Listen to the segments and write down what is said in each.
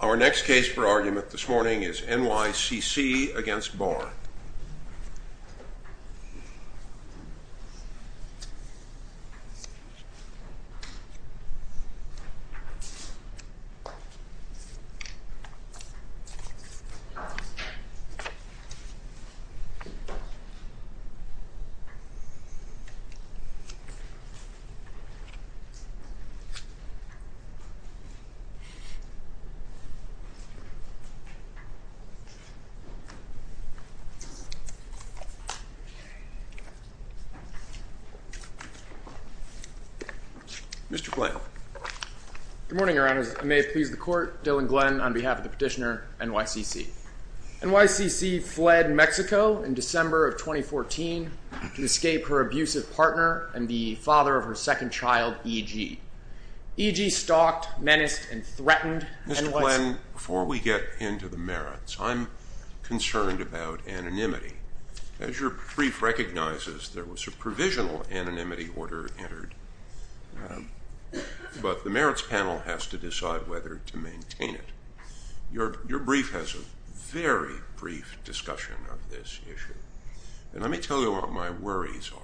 Our next case for argument this morning is N. Y. C. C. v. Barr. Mr. Blank. Good morning, Your Honors. May it please the Court, Dylan Glenn on behalf of the petitioner, N. Y. C. C. N. Y. C. C. fled Mexico in December of 2014 to escape her abusive partner and the father of her second child, E. G. E. G. stalked, menaced, and threatened N. Y. C. Mr. Glenn, before we get into the merits, I'm concerned about anonymity. As your brief recognizes, there was a provisional anonymity order entered, but the merits panel has to decide whether to maintain it. Your brief has a very brief discussion of this issue, and let me tell you what my worries are.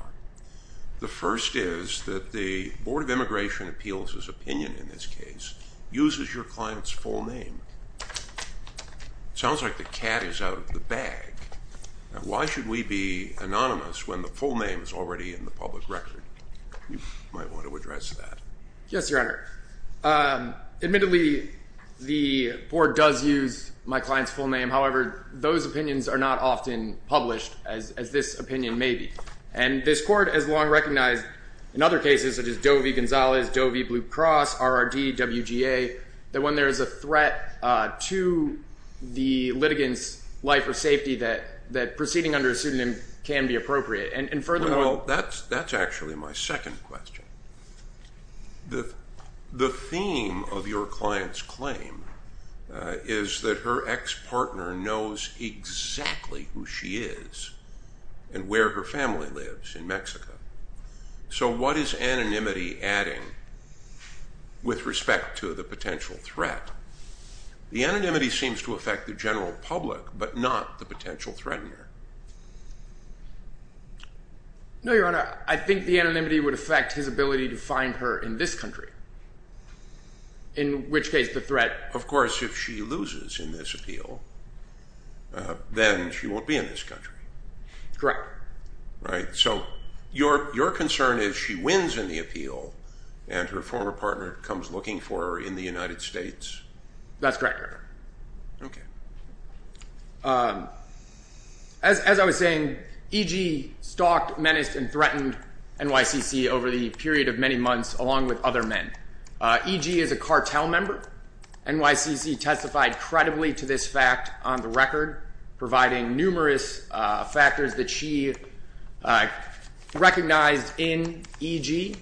The first is that the Board of Immigration Appeals' opinion in this case uses your client's full name. It sounds like the cat is out of the bag. Why should we be anonymous when the full name is already in the public record? You might want to address that. Yes, Your Honor. Admittedly, the Board does use my client's full name. However, those opinions are not often published as this opinion may be. And this Court has long recognized in other cases, such as Doe v. Gonzalez, Doe v. Blue Cross, RRD, WGA, that when there is a threat to the litigant's life or safety, that proceeding under a pseudonym can be appropriate. And furthermore— Well, that's actually my second question. The theme of your client's claim is that her ex-partner knows exactly who she is and where her family lives in Mexico. So what is anonymity adding with respect to the potential threat? The anonymity seems to affect the general public, but not the potential threatener. No, Your Honor. I think the anonymity would affect his ability to find her in this country, in which case the threat— Of course, if she loses in this appeal, then she won't be in this country. Correct. Right. So your concern is she wins in the appeal and her former partner comes looking for her in the United States? That's correct, Your Honor. Okay. As I was saying, E.G. stalked, menaced, and threatened N.Y.C.C. over the period of many months, along with other men. E.G. is a cartel member. N.Y.C.C. testified credibly to this fact on the record, providing numerous factors that she recognized in E.G.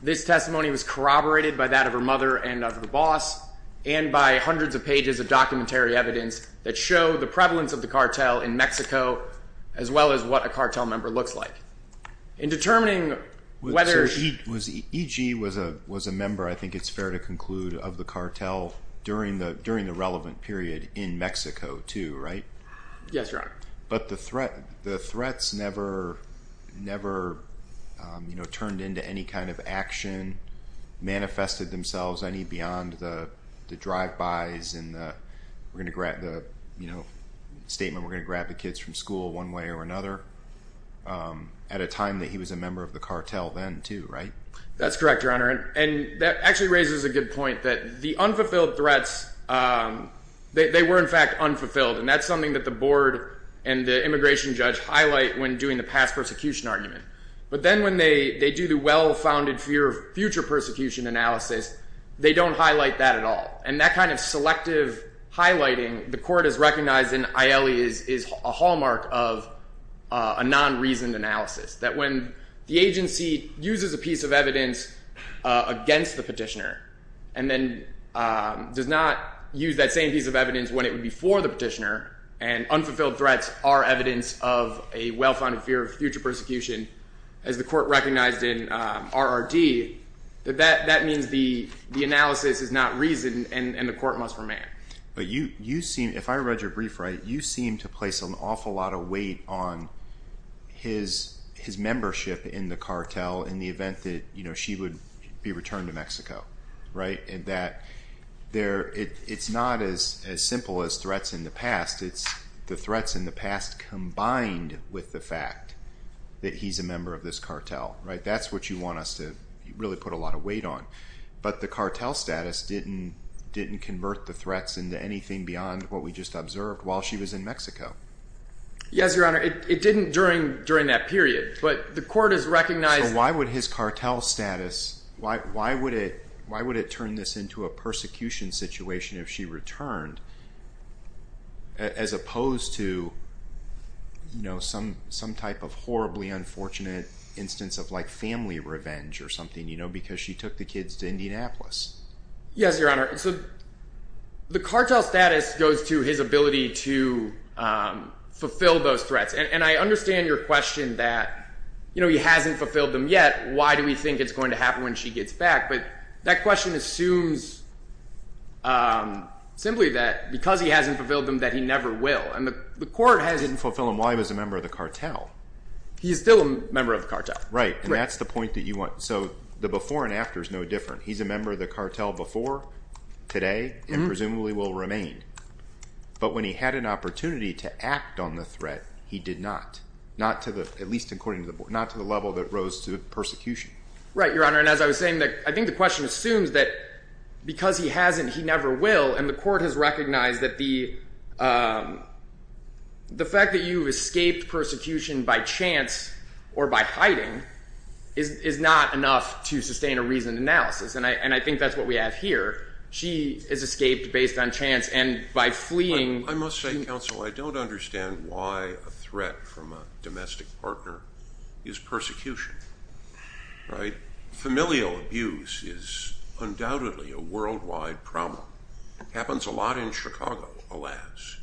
This testimony was corroborated by that of her mother and of the boss, and by hundreds of pages of documentary evidence that show the prevalence of the cartel in Mexico, as well as what a cartel member looks like. In determining whether she— E.G. was a member, I think it's fair to conclude, of the cartel during the relevant period in Mexico, too, right? Yes, Your Honor. But the threats never turned into any kind of action, manifested themselves any beyond the drive-bys and the statement, we're going to grab the kids from school one way or another, at a time that he was a member of the cartel then, too, right? That's correct, Your Honor. And that actually raises a good point, that the unfulfilled threats, they were in fact unfulfilled. And that's something that the board and the immigration judge highlight when doing the past persecution argument. But then when they do the well-founded fear of future persecution analysis, they don't highlight that at all. And that kind of selective highlighting, the court has recognized in Aielli, is a hallmark of a non-reasoned analysis. That when the agency uses a piece of evidence against the petitioner, and then does not use that same piece of evidence when it would be for the petitioner, and unfulfilled threats are evidence of a well-founded fear of future persecution, as the court recognized in RRD, that that means the analysis is not reasoned and the court must remand. But you seem, if I read your brief right, you seem to place an awful lot of weight on his membership in the cartel in the event that she would be returned to Mexico, right? And that it's not as simple as threats in the past. It's the threats in the past combined with the fact that he's a member of this cartel, right? That's what you want us to really put a lot of weight on. But the cartel status didn't convert the threats into anything beyond what we just observed while she was in Mexico. Yes, Your Honor. It didn't during that period, but the court has recognized... So why would his cartel status, why would it turn this into a persecution situation if she returned, as opposed to some type of horribly unfortunate instance of family revenge or something, you know, because she took the kids to Indianapolis? Yes, Your Honor. So the cartel status goes to his ability to fulfill those threats. And I understand your question that, you know, he hasn't fulfilled them yet. Why do we think it's going to happen when she gets back? But that question assumes simply that because he hasn't fulfilled them that he never will. And the court has... He didn't fulfill them while he was a member of the cartel. He's still a member of the cartel. Right. And that's the point that you want. So the before and after is no different. He's a member of the cartel before, today, and presumably will remain. But when he had an opportunity to act on the threat, he did not. Not to the, at least according to the board, not to the level that rose to persecution. Right, Your Honor. And as I was saying, I think the question assumes that because he hasn't, he never will. And the court has recognized that the fact that you've escaped persecution by chance or by hiding is not enough to sustain a reasoned analysis. And I think that's what we have here. She has escaped based on chance and by fleeing. I must say, counsel, I don't understand why a threat from a domestic partner is persecution. Familial abuse is undoubtedly a worldwide problem. It happens a lot in Chicago, alas.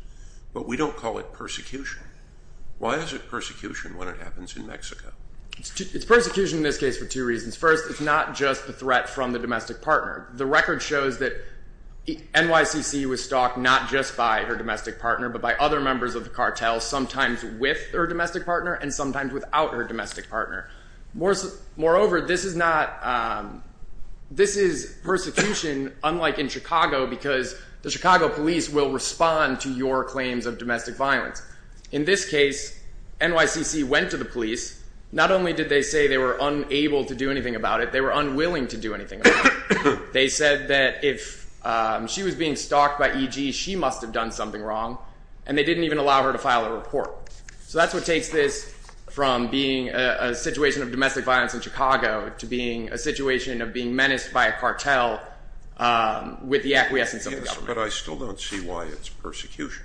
But we don't call it persecution. Why is it persecution when it happens in Mexico? It's persecution in this case for two reasons. First, it's not just the threat from the domestic partner. The record shows that NYCC was stalked not just by her domestic partner, but by other members of the cartel, sometimes with her domestic partner and sometimes without her domestic partner. Moreover, this is persecution unlike in Chicago because the Chicago police will respond to your claims of domestic violence. In this case, NYCC went to the police. Not only did they say they were unable to do anything about it, they were unwilling to do anything about it. They said that if she was being stalked by EG, she must have done something wrong. And they didn't even allow her to file a report. So that's what takes this from being a situation of domestic violence in Chicago to being a situation of being menaced by a cartel with the acquiescence of the government. Yes, but I still don't see why it's persecution.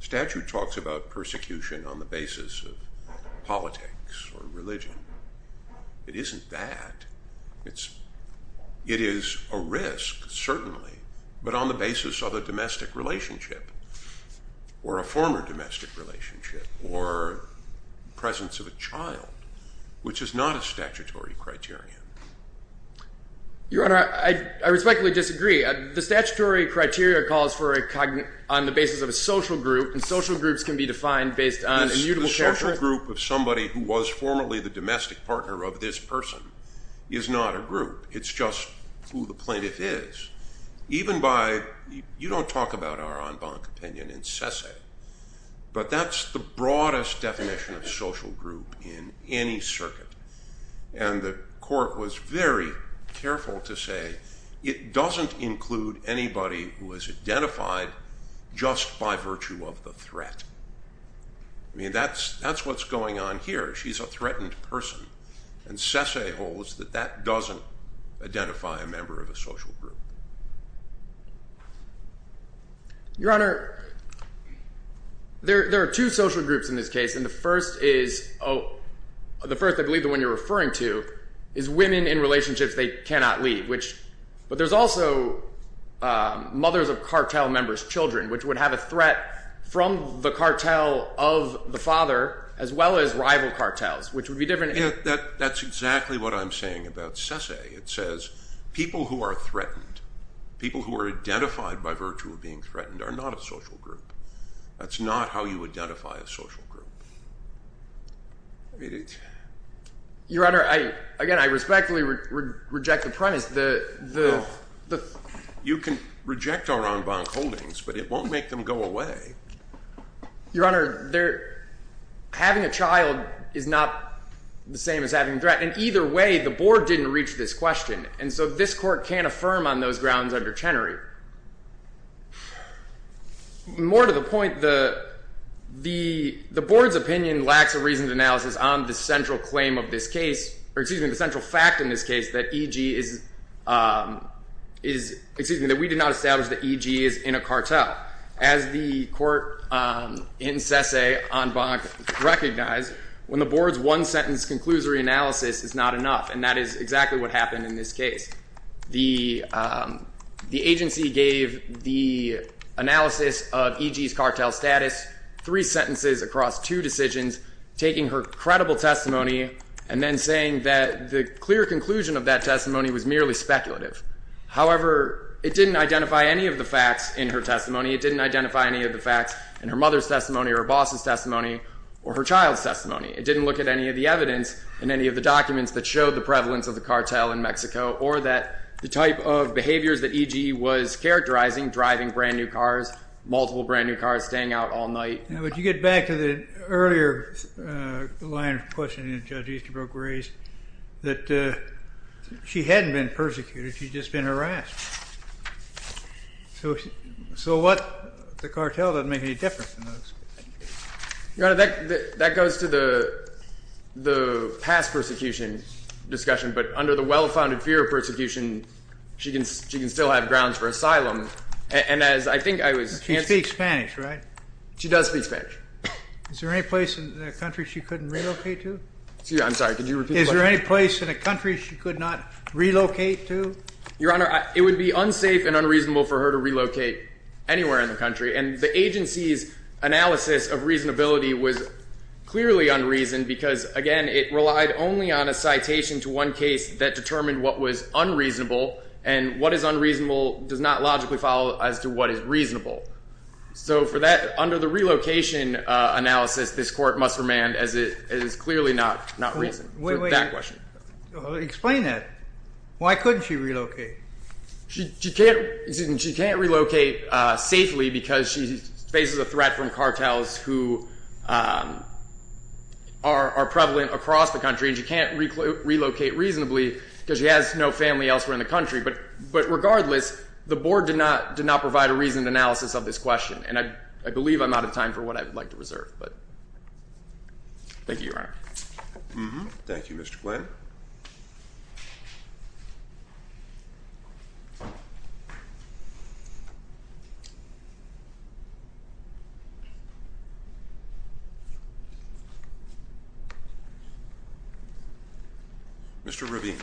Statute talks about persecution on the basis of politics or religion. It isn't that. It is a risk, certainly, but on the basis of a domestic relationship or a former domestic relationship or presence of a child, which is not a statutory criterion. Your Honor, I respectfully disagree. The statutory criteria calls for a cognate on the basis of a social group, and social groups can be defined based on immutable character. The social group of somebody who was formerly the domestic partner of this person is not a group. It's just who the plaintiff is. You don't talk about our en banc opinion in Sese, but that's the broadest definition of social group in any circuit, and the court was very careful to say it doesn't include anybody who is identified just by virtue of the threat. I mean, that's what's going on here. She's a threatened person, and Sese holds that that doesn't identify a member of a social group. Your Honor, there are two social groups in this case, and the first is the first I believe the one you're referring to is women in relationships they cannot leave, but there's also mothers of cartel members' children, which would have a threat from the cartel of the father as well as rival cartels, which would be different. That's exactly what I'm saying about Sese. It says people who are threatened, people who are identified by virtue of being threatened are not a social group. That's not how you identify a social group. Your Honor, again, I respectfully reject the premise. You can reject our en banc holdings, but it won't make them go away. Your Honor, having a child is not the same as having a threat, and either way the board didn't reach this question, and so this court can't affirm on those grounds under Chenery. More to the point, the board's opinion lacks a reasoned analysis on the central claim of this case, or excuse me, the central fact in this case that EG is, excuse me, that we did not establish that EG is in a cartel. As the court in Sese en banc recognized, when the board's one-sentence conclusory analysis is not enough, and that is exactly what happened in this case. The agency gave the analysis of EG's cartel status three sentences across two decisions, taking her credible testimony and then saying that the clear conclusion of that testimony was merely speculative. However, it didn't identify any of the facts in her testimony. It didn't identify any of the facts in her mother's testimony or her boss's testimony or her child's testimony. It didn't look at any of the evidence in any of the documents that showed the prevalence of the cartel in Mexico or that the type of behaviors that EG was characterizing, driving brand-new cars, multiple brand-new cars, staying out all night. Now, would you get back to the earlier line of questioning that Judge Easterbrook raised, that she hadn't been persecuted, she'd just been harassed. So what the cartel doesn't make any difference in those. Your Honor, that goes to the past persecution discussion. But under the well-founded fear of persecution, she can still have grounds for asylum. And as I think I was answering. She speaks Spanish, right? She does speak Spanish. Is there any place in the country she couldn't relocate to? I'm sorry, could you repeat the question? Is there any place in the country she could not relocate to? Your Honor, it would be unsafe and unreasonable for her to relocate anywhere in the country. And the agency's analysis of reasonability was clearly unreasoned because, again, it relied only on a citation to one case that determined what was unreasonable. And what is unreasonable does not logically follow as to what is reasonable. So for that, under the relocation analysis, this Court must remand as it is clearly not reasonable for that question. Explain that. Why couldn't she relocate? She can't relocate safely because she faces a threat from cartels who are prevalent across the country. And she can't relocate reasonably because she has no family elsewhere in the country. But regardless, the Board did not provide a reasoned analysis of this question. And I believe I'm out of time for what I would like to reserve. Thank you, Your Honor. Thank you, Mr. Glenn. Mr. Ravine.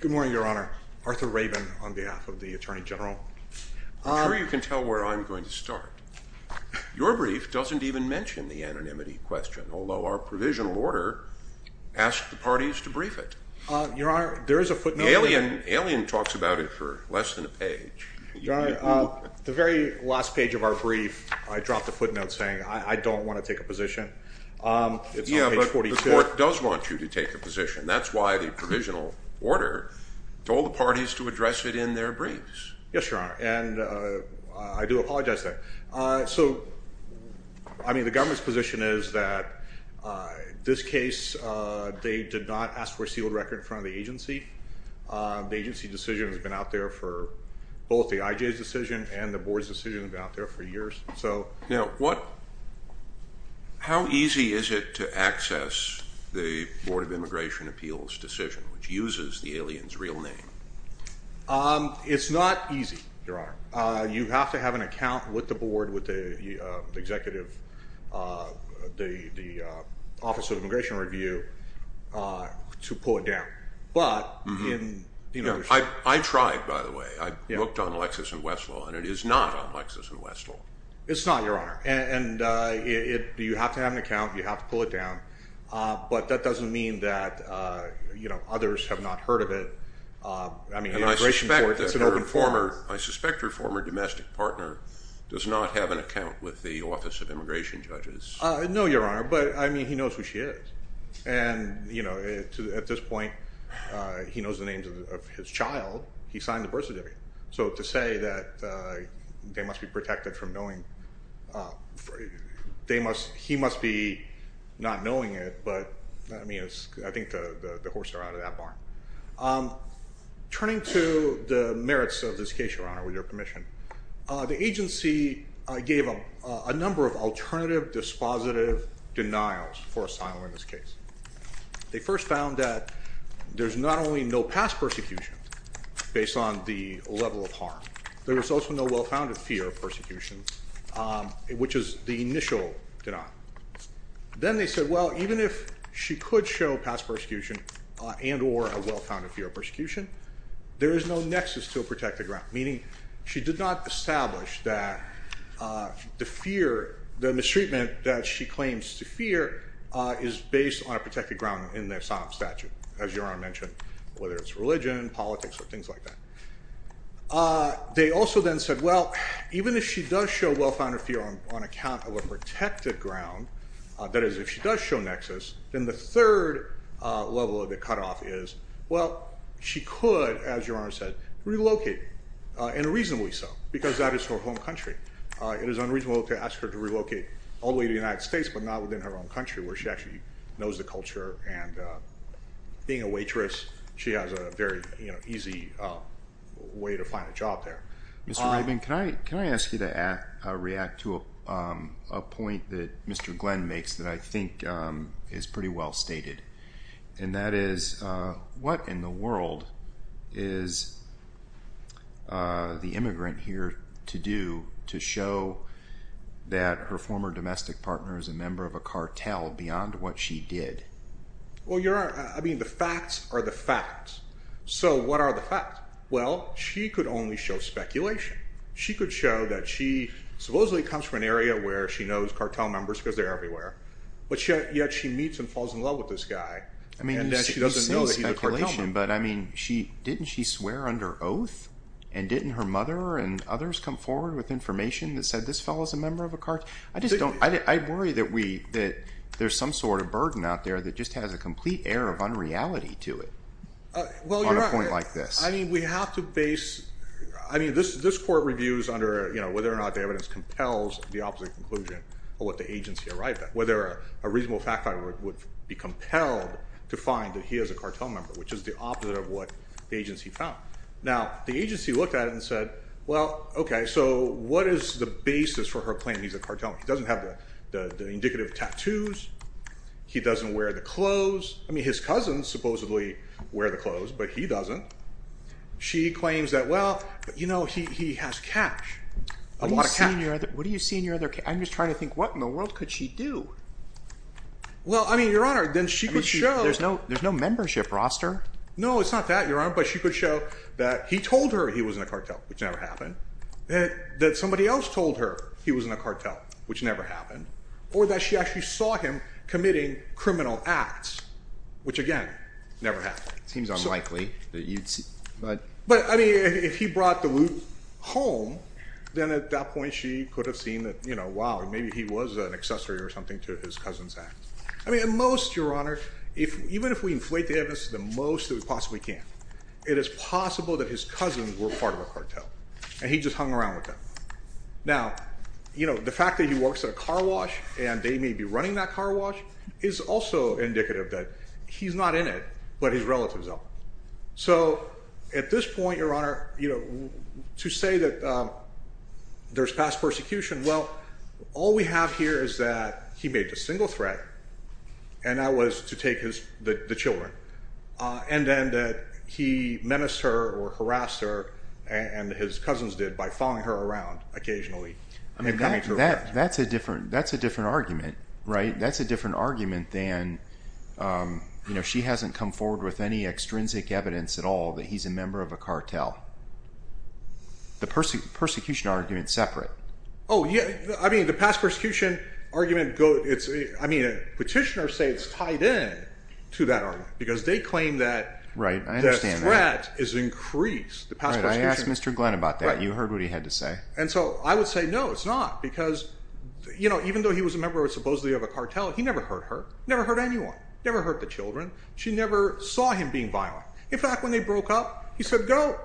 Good morning, Your Honor. Arthur Rabin on behalf of the Attorney General. I'm sure you can tell where I'm going to start. Your brief doesn't even mention the anonymity question, although our provisional order asks the parties to brief it. Your Honor, there is a footnote. Alien talks about it for less than a page. Your Honor, the very last page of our brief, I dropped a footnote saying I don't want to take a position. It's on page 42. Yeah, but the Court does want you to take a position. That's why the provisional order told the parties to address it in their briefs. Yes, Your Honor, and I do apologize for that. So, I mean, the government's position is that this case, they did not ask for a sealed record in front of the agency. The agency decision has been out there for both the IJ's decision and the Board's decision has been out there for years. Now, how easy is it to access the Board of Immigration Appeals decision, which uses the alien's real name? It's not easy, Your Honor. You have to have an account with the Board, with the Executive, the Office of Immigration Review, to pull it down. I tried, by the way. I looked on Lexis and Westlaw, and it is not on Lexis and Westlaw. It's not, Your Honor, and you have to have an account, you have to pull it down, but that doesn't mean that others have not heard of it. And I suspect that her former domestic partner does not have an account with the Office of Immigration Judges. No, Your Honor, but, I mean, he knows who she is, and at this point, he knows the names of his child. He signed the birth certificate. So to say that they must be protected from knowing, he must be not knowing it, but, I mean, I think the horse are out of that barn. Turning to the merits of this case, Your Honor, with your permission, the agency gave a number of alternative dispositive denials for asylum in this case. They first found that there's not only no past persecution based on the level of harm, there is also no well-founded fear of persecution, which is the initial denial. Then they said, well, even if she could show past persecution and or a well-founded fear of persecution, there is no nexus to a protected ground, meaning she did not establish that the fear, the mistreatment that she claims to fear is based on a protected ground in the asylum statute, as Your Honor mentioned, whether it's religion, politics, or things like that. They also then said, well, even if she does show well-founded fear on account of a protected ground, that is, if she does show nexus, then the third level of the cutoff is, well, she could, as Your Honor said, relocate, and reasonably so, because that is her home country. It is unreasonable to ask her to relocate all the way to the United States but not within her own country, where she actually knows the culture, and being a waitress, she has a very easy way to find a job there. Mr. Rabin, can I ask you to react to a point that Mr. Glenn makes that I think is pretty well stated, and that is, what in the world is the immigrant here to do to show that her former domestic partner is a member of a cartel beyond what she did? Well, Your Honor, I mean, the facts are the facts, so what are the facts? Well, she could only show speculation. She could show that she supposedly comes from an area where she knows cartel members because they're everywhere, but yet she meets and falls in love with this guy, and she doesn't know that he's a cartel member. I mean, you say speculation, but didn't she swear under oath, and didn't her mother and others come forward with information that said this fellow is a member of a cartel? I worry that there's some sort of burden out there that just has a complete air of unreality to it on a point like this. I mean, this court reviews under whether or not the evidence compels the opposite conclusion of what the agency arrived at, whether a reasonable fact-finder would be compelled to find that he is a cartel member, which is the opposite of what the agency found. Now, the agency looked at it and said, well, okay, so what is the basis for her claiming he's a cartel member? He doesn't have the indicative tattoos. He doesn't wear the clothes. I mean, his cousins supposedly wear the clothes, but he doesn't. She claims that, well, you know, he has cash, a lot of cash. What do you see in your other case? I'm just trying to think what in the world could she do? Well, I mean, Your Honor, then she could show. There's no membership roster. No, it's not that, Your Honor, but she could show that he told her he was in a cartel, which never happened, that somebody else told her he was in a cartel, which never happened, or that she actually saw him committing criminal acts, which, again, never happened. It seems unlikely. But, I mean, if he brought the loot home, then at that point she could have seen that, you know, wow, maybe he was an accessory or something to his cousin's act. I mean, at most, Your Honor, even if we inflate the evidence to the most that we possibly can, it is possible that his cousins were part of a cartel and he just hung around with them. Now, you know, the fact that he works at a car wash and they may be running that car wash is also indicative that he's not in it, but his relatives are. So at this point, Your Honor, you know, to say that there's past persecution, well, all we have here is that he made the single threat, and that was to take the children, and then that he menaced her or harassed her, and his cousins did, by following her around occasionally. I mean, that's a different argument, right? That's a different argument than, you know, she hasn't come forward with any extrinsic evidence at all that he's a member of a cartel. The persecution argument is separate. Oh, yeah, I mean, the past persecution argument, I mean, petitioners say it's tied in to that argument because they claim that the threat is increased. Right, I asked Mr. Glenn about that. You heard what he had to say. And so I would say no, it's not, because, you know, even though he was a member supposedly of a cartel, he never hurt her, never hurt anyone, never hurt the children. She never saw him being violent. In fact, when they broke up, he said, go,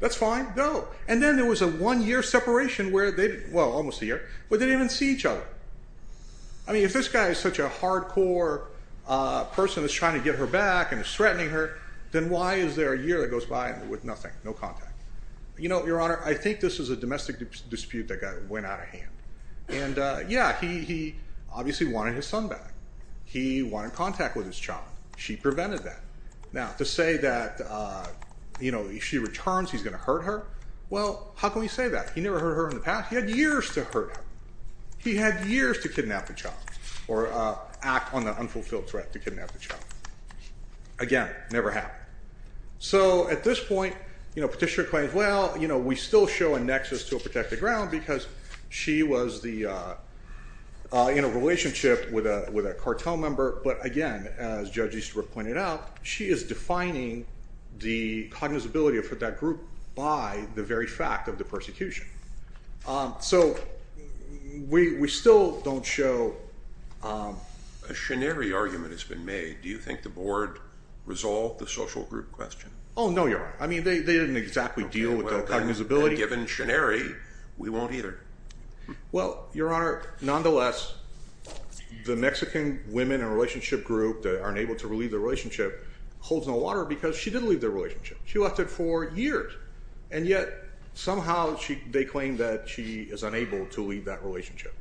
that's fine, go. And then there was a one-year separation where they, well, almost a year, where they didn't even see each other. I mean, if this guy is such a hardcore person that's trying to get her back and is threatening her, then why is there a year that goes by with nothing, no contact? You know, Your Honor, I think this is a domestic dispute that went out of hand. And, yeah, he obviously wanted his son back. He wanted contact with his child. She prevented that. Now, to say that, you know, if she returns, he's going to hurt her, well, how can we say that? He never hurt her in the past. He had years to hurt her. He had years to kidnap the child or act on the unfulfilled threat to kidnap the child. Again, never happened. So at this point, you know, Petitioner claims, well, you know, we still show a nexus to a protected ground because she was in a relationship with a cartel member. But, again, as Judge Easterbrook pointed out, she is defining the cognizability of that group by the very fact of the persecution. So we still don't show. A Shineri argument has been made. Do you think the board resolved the social group question? Oh, no, Your Honor. I mean, they didn't exactly deal with the cognizability. Well, then, given Shineri, we won't either. Well, Your Honor, nonetheless, the Mexican women in a relationship group that aren't able to leave the relationship holds no water because she didn't leave the relationship. She left it for years. And yet somehow they claim that she is unable to leave that relationship.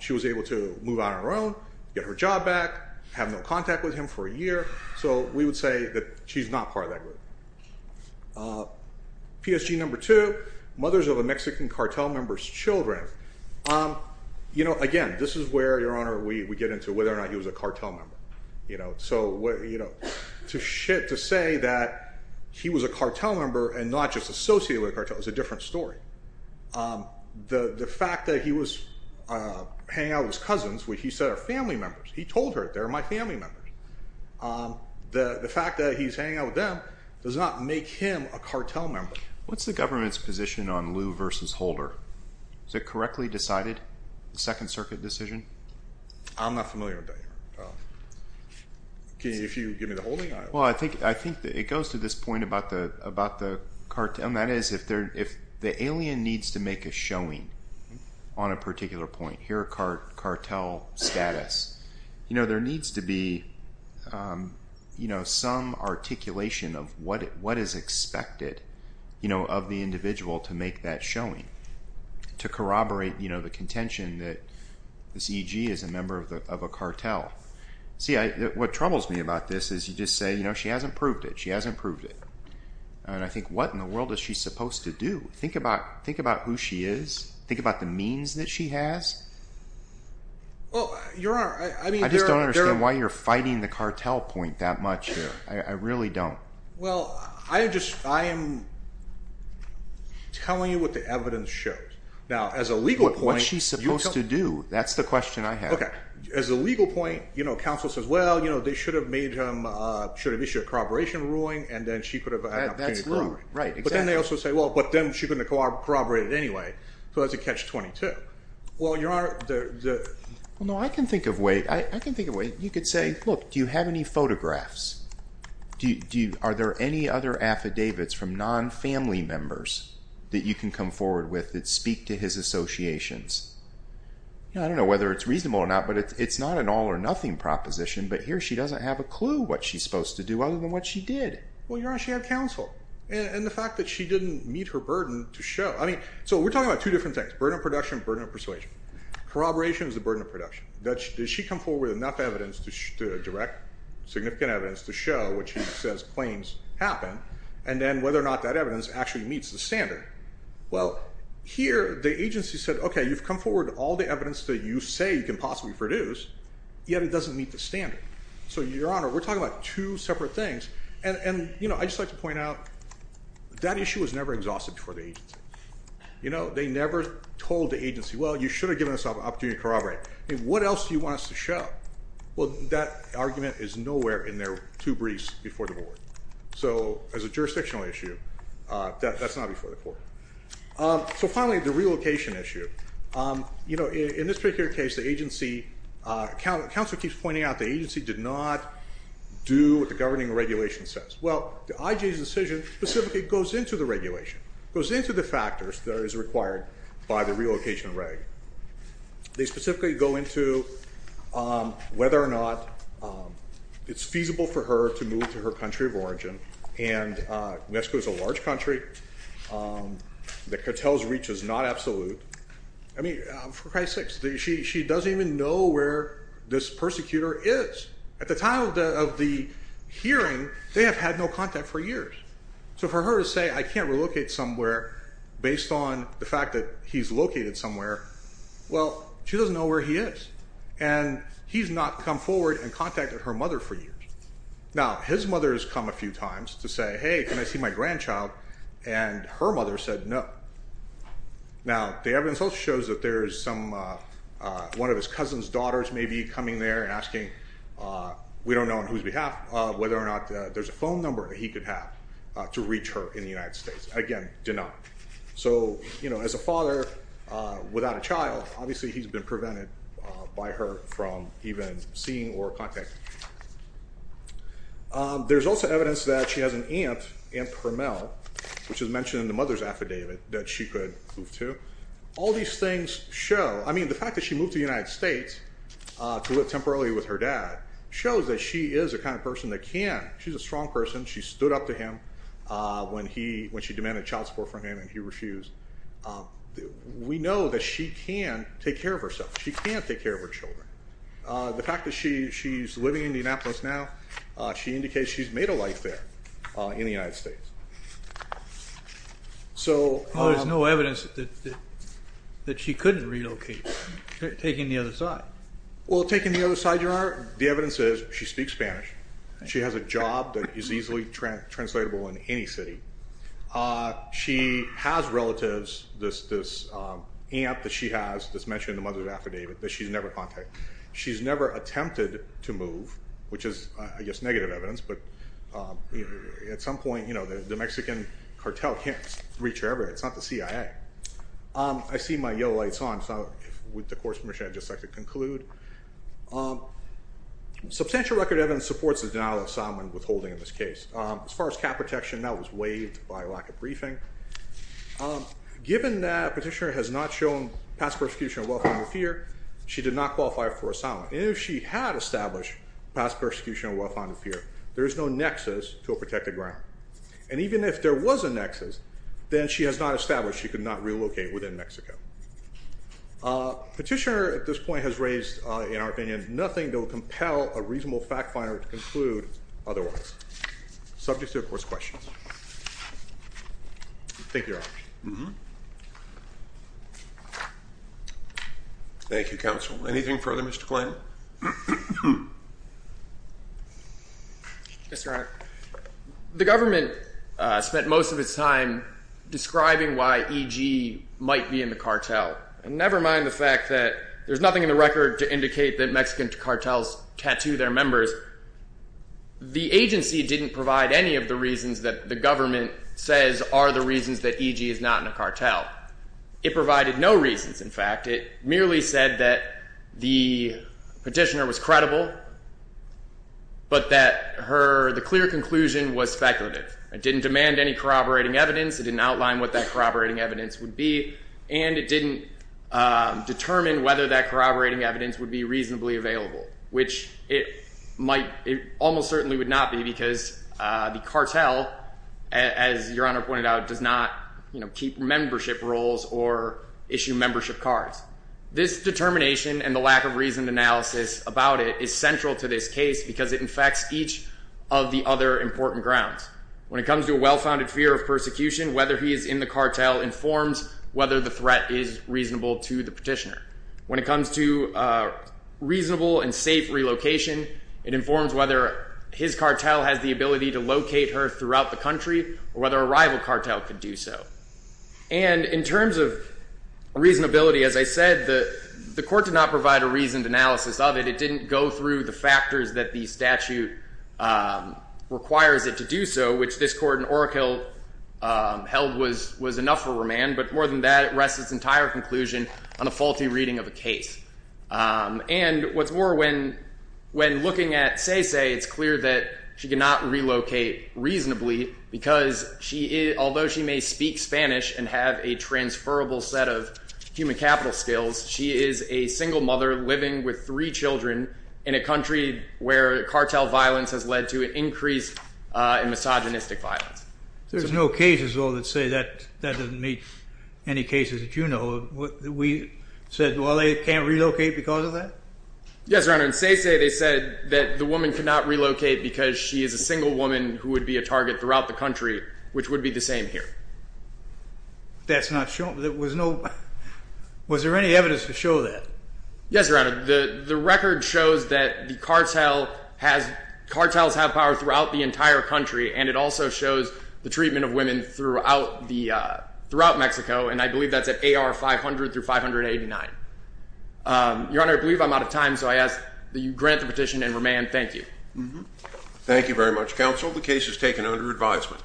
She was able to move on her own, get her job back, have no contact with him for a year. So we would say that she's not part of that group. PSG number two, mothers of a Mexican cartel member's children. You know, again, this is where, Your Honor, we get into whether or not he was a cartel member. So to say that he was a cartel member and not just associated with a cartel is a different story. The fact that he was hanging out with his cousins, which he said are family members. He told her, they're my family members. The fact that he's hanging out with them does not make him a cartel member. What's the government's position on Liu versus Holder? Was it correctly decided, the Second Circuit decision? I'm not familiar with that, Your Honor. Can you give me the holding? Well, I think it goes to this point about the cartel. And that is if the alien needs to make a showing on a particular point, here a cartel status, there needs to be some articulation of what is expected of the individual to make that showing, to corroborate the contention that this EG is a member of a cartel. See, what troubles me about this is you just say, you know, she hasn't proved it. She hasn't proved it. And I think what in the world is she supposed to do? Think about who she is. Think about the means that she has. Well, Your Honor, I mean, there are— I just don't understand why you're fighting the cartel point that much here. I really don't. Well, I just—I am telling you what the evidence shows. Now, as a legal point— But what's she supposed to do? That's the question I have. Okay. As a legal point, you know, counsel says, well, you know, they should have made him—should have issued a corroboration ruling, and then she could have had an opportunity to corroborate. That's rude. Right. Exactly. But then they also say, well, but then she couldn't have corroborated it anyway. So that's a catch-22. Well, Your Honor, the— Well, no, I can think of a way. I can think of a way. You could say, look, do you have any photographs? Do you—are there any other affidavits from non-family members that you can come forward with that speak to his associations? I don't know whether it's reasonable or not, but it's not an all-or-nothing proposition, but here she doesn't have a clue what she's supposed to do other than what she did. Well, Your Honor, she had counsel. And the fact that she didn't meet her burden to show—I mean, so we're talking about two different things, burden of production, burden of persuasion. Corroboration is the burden of production. Does she come forward with enough evidence to direct significant evidence to show what she says claims happen and then whether or not that evidence actually meets the standard? Well, here the agency said, okay, you've come forward with all the evidence that you say you can possibly produce, yet it doesn't meet the standard. So, Your Honor, we're talking about two separate things. And, you know, I'd just like to point out that issue was never exhausted before the agency. You know, they never told the agency, well, you should have given us an opportunity to corroborate. I mean, what else do you want us to show? Well, that argument is nowhere in their two briefs before the board. So as a jurisdictional issue, that's not before the court. So finally, the relocation issue. You know, in this particular case, the agency—Counselor keeps pointing out the agency did not do what the governing regulation says. Well, the IJ's decision specifically goes into the regulation, goes into the factors that are required by the relocation reg. They specifically go into whether or not it's feasible for her to move to her country of origin. And Mexico is a large country. The cartel's reach is not absolute. I mean, for Christ's sakes, she doesn't even know where this persecutor is. At the time of the hearing, they have had no contact for years. So for her to say, I can't relocate somewhere based on the fact that he's located somewhere, well, she doesn't know where he is. And he's not come forward and contacted her mother for years. Now, his mother has come a few times to say, hey, can I see my grandchild? And her mother said no. Now, the evidence also shows that there is some—one of his cousin's daughters may be coming there and asking— to reach her in the United States. Again, denied. So, you know, as a father without a child, obviously he's been prevented by her from even seeing or contacting her. There's also evidence that she has an aunt, Aunt Permel, which is mentioned in the mother's affidavit, that she could move to. All these things show—I mean, the fact that she moved to the United States to live temporarily with her dad shows that she is the kind of person that can. She's a strong person. She stood up to him when he—when she demanded child support from him and he refused. We know that she can take care of herself. She can take care of her children. The fact that she's living in Indianapolis now, she indicates she's made a life there in the United States. So— Well, there's no evidence that she couldn't relocate, taking the other side. Well, taking the other side, Your Honor, the evidence is she speaks Spanish. She has a job that is easily translatable in any city. She has relatives, this aunt that she has that's mentioned in the mother's affidavit that she's never contacted. She's never attempted to move, which is, I guess, negative evidence. But at some point, you know, the Mexican cartel can't reach her ever. It's not the CIA. I see my yellow lights on, so with the court's permission, I'd just like to conclude. Substantial record evidence supports the denial of asylum and withholding in this case. As far as cap protection, that was waived by lack of briefing. Given that Petitioner has not shown past persecution or well-founded fear, she did not qualify for asylum. And if she had established past persecution or well-founded fear, there is no nexus to a protected ground. And even if there was a nexus, then she has not established she could not relocate within Mexico. Petitioner at this point has raised, in our opinion, nothing that will compel a reasonable fact finder to conclude otherwise. Subject to, of course, questions. Thank you, Your Honor. Thank you, Counsel. Anything further, Mr. Kline? Yes, Your Honor. The government spent most of its time describing why E.G. might be in the cartel. And never mind the fact that there's nothing in the record to indicate that Mexican cartels tattoo their members. The agency didn't provide any of the reasons that the government says are the reasons that E.G. is not in a cartel. In fact, it merely said that the petitioner was credible, but that the clear conclusion was speculative. It didn't demand any corroborating evidence. It didn't outline what that corroborating evidence would be. And it didn't determine whether that corroborating evidence would be reasonably available, which it almost certainly would not be because the cartel, as Your Honor pointed out, does not keep membership roles or issue membership cards. This determination and the lack of reasoned analysis about it is central to this case because it infects each of the other important grounds. When it comes to a well-founded fear of persecution, whether he is in the cartel informs whether the threat is reasonable to the petitioner. When it comes to reasonable and safe relocation, it informs whether his cartel has the ability to locate her throughout the country or whether a rival cartel could do so. And in terms of reasonability, as I said, the court did not provide a reasoned analysis of it. It didn't go through the factors that the statute requires it to do so, which this court in Orokill held was enough for remand. But more than that, it rests its entire conclusion on a faulty reading of a case. And what's more, when looking at Cece, it's clear that she cannot relocate reasonably because, although she may speak Spanish and have a transferable set of human capital skills, she is a single mother living with three children in a country where cartel violence has led to an increase in misogynistic violence. There's no cases, though, that say that doesn't meet any cases that you know of. We said, well, they can't relocate because of that? Yes, Your Honor. In Cece, they said that the woman could not relocate because she is a single woman who would be a target throughout the country, which would be the same here. That's not shown. There was no—was there any evidence to show that? Yes, Your Honor. The record shows that the cartel has—cartels have power throughout the entire country, and it also shows the treatment of women throughout Mexico, and I believe that's at AR 500 through 589. Your Honor, I believe I'm out of time, so I ask that you grant the petition and remand. Thank you. Thank you very much, counsel. The case is taken under advisement.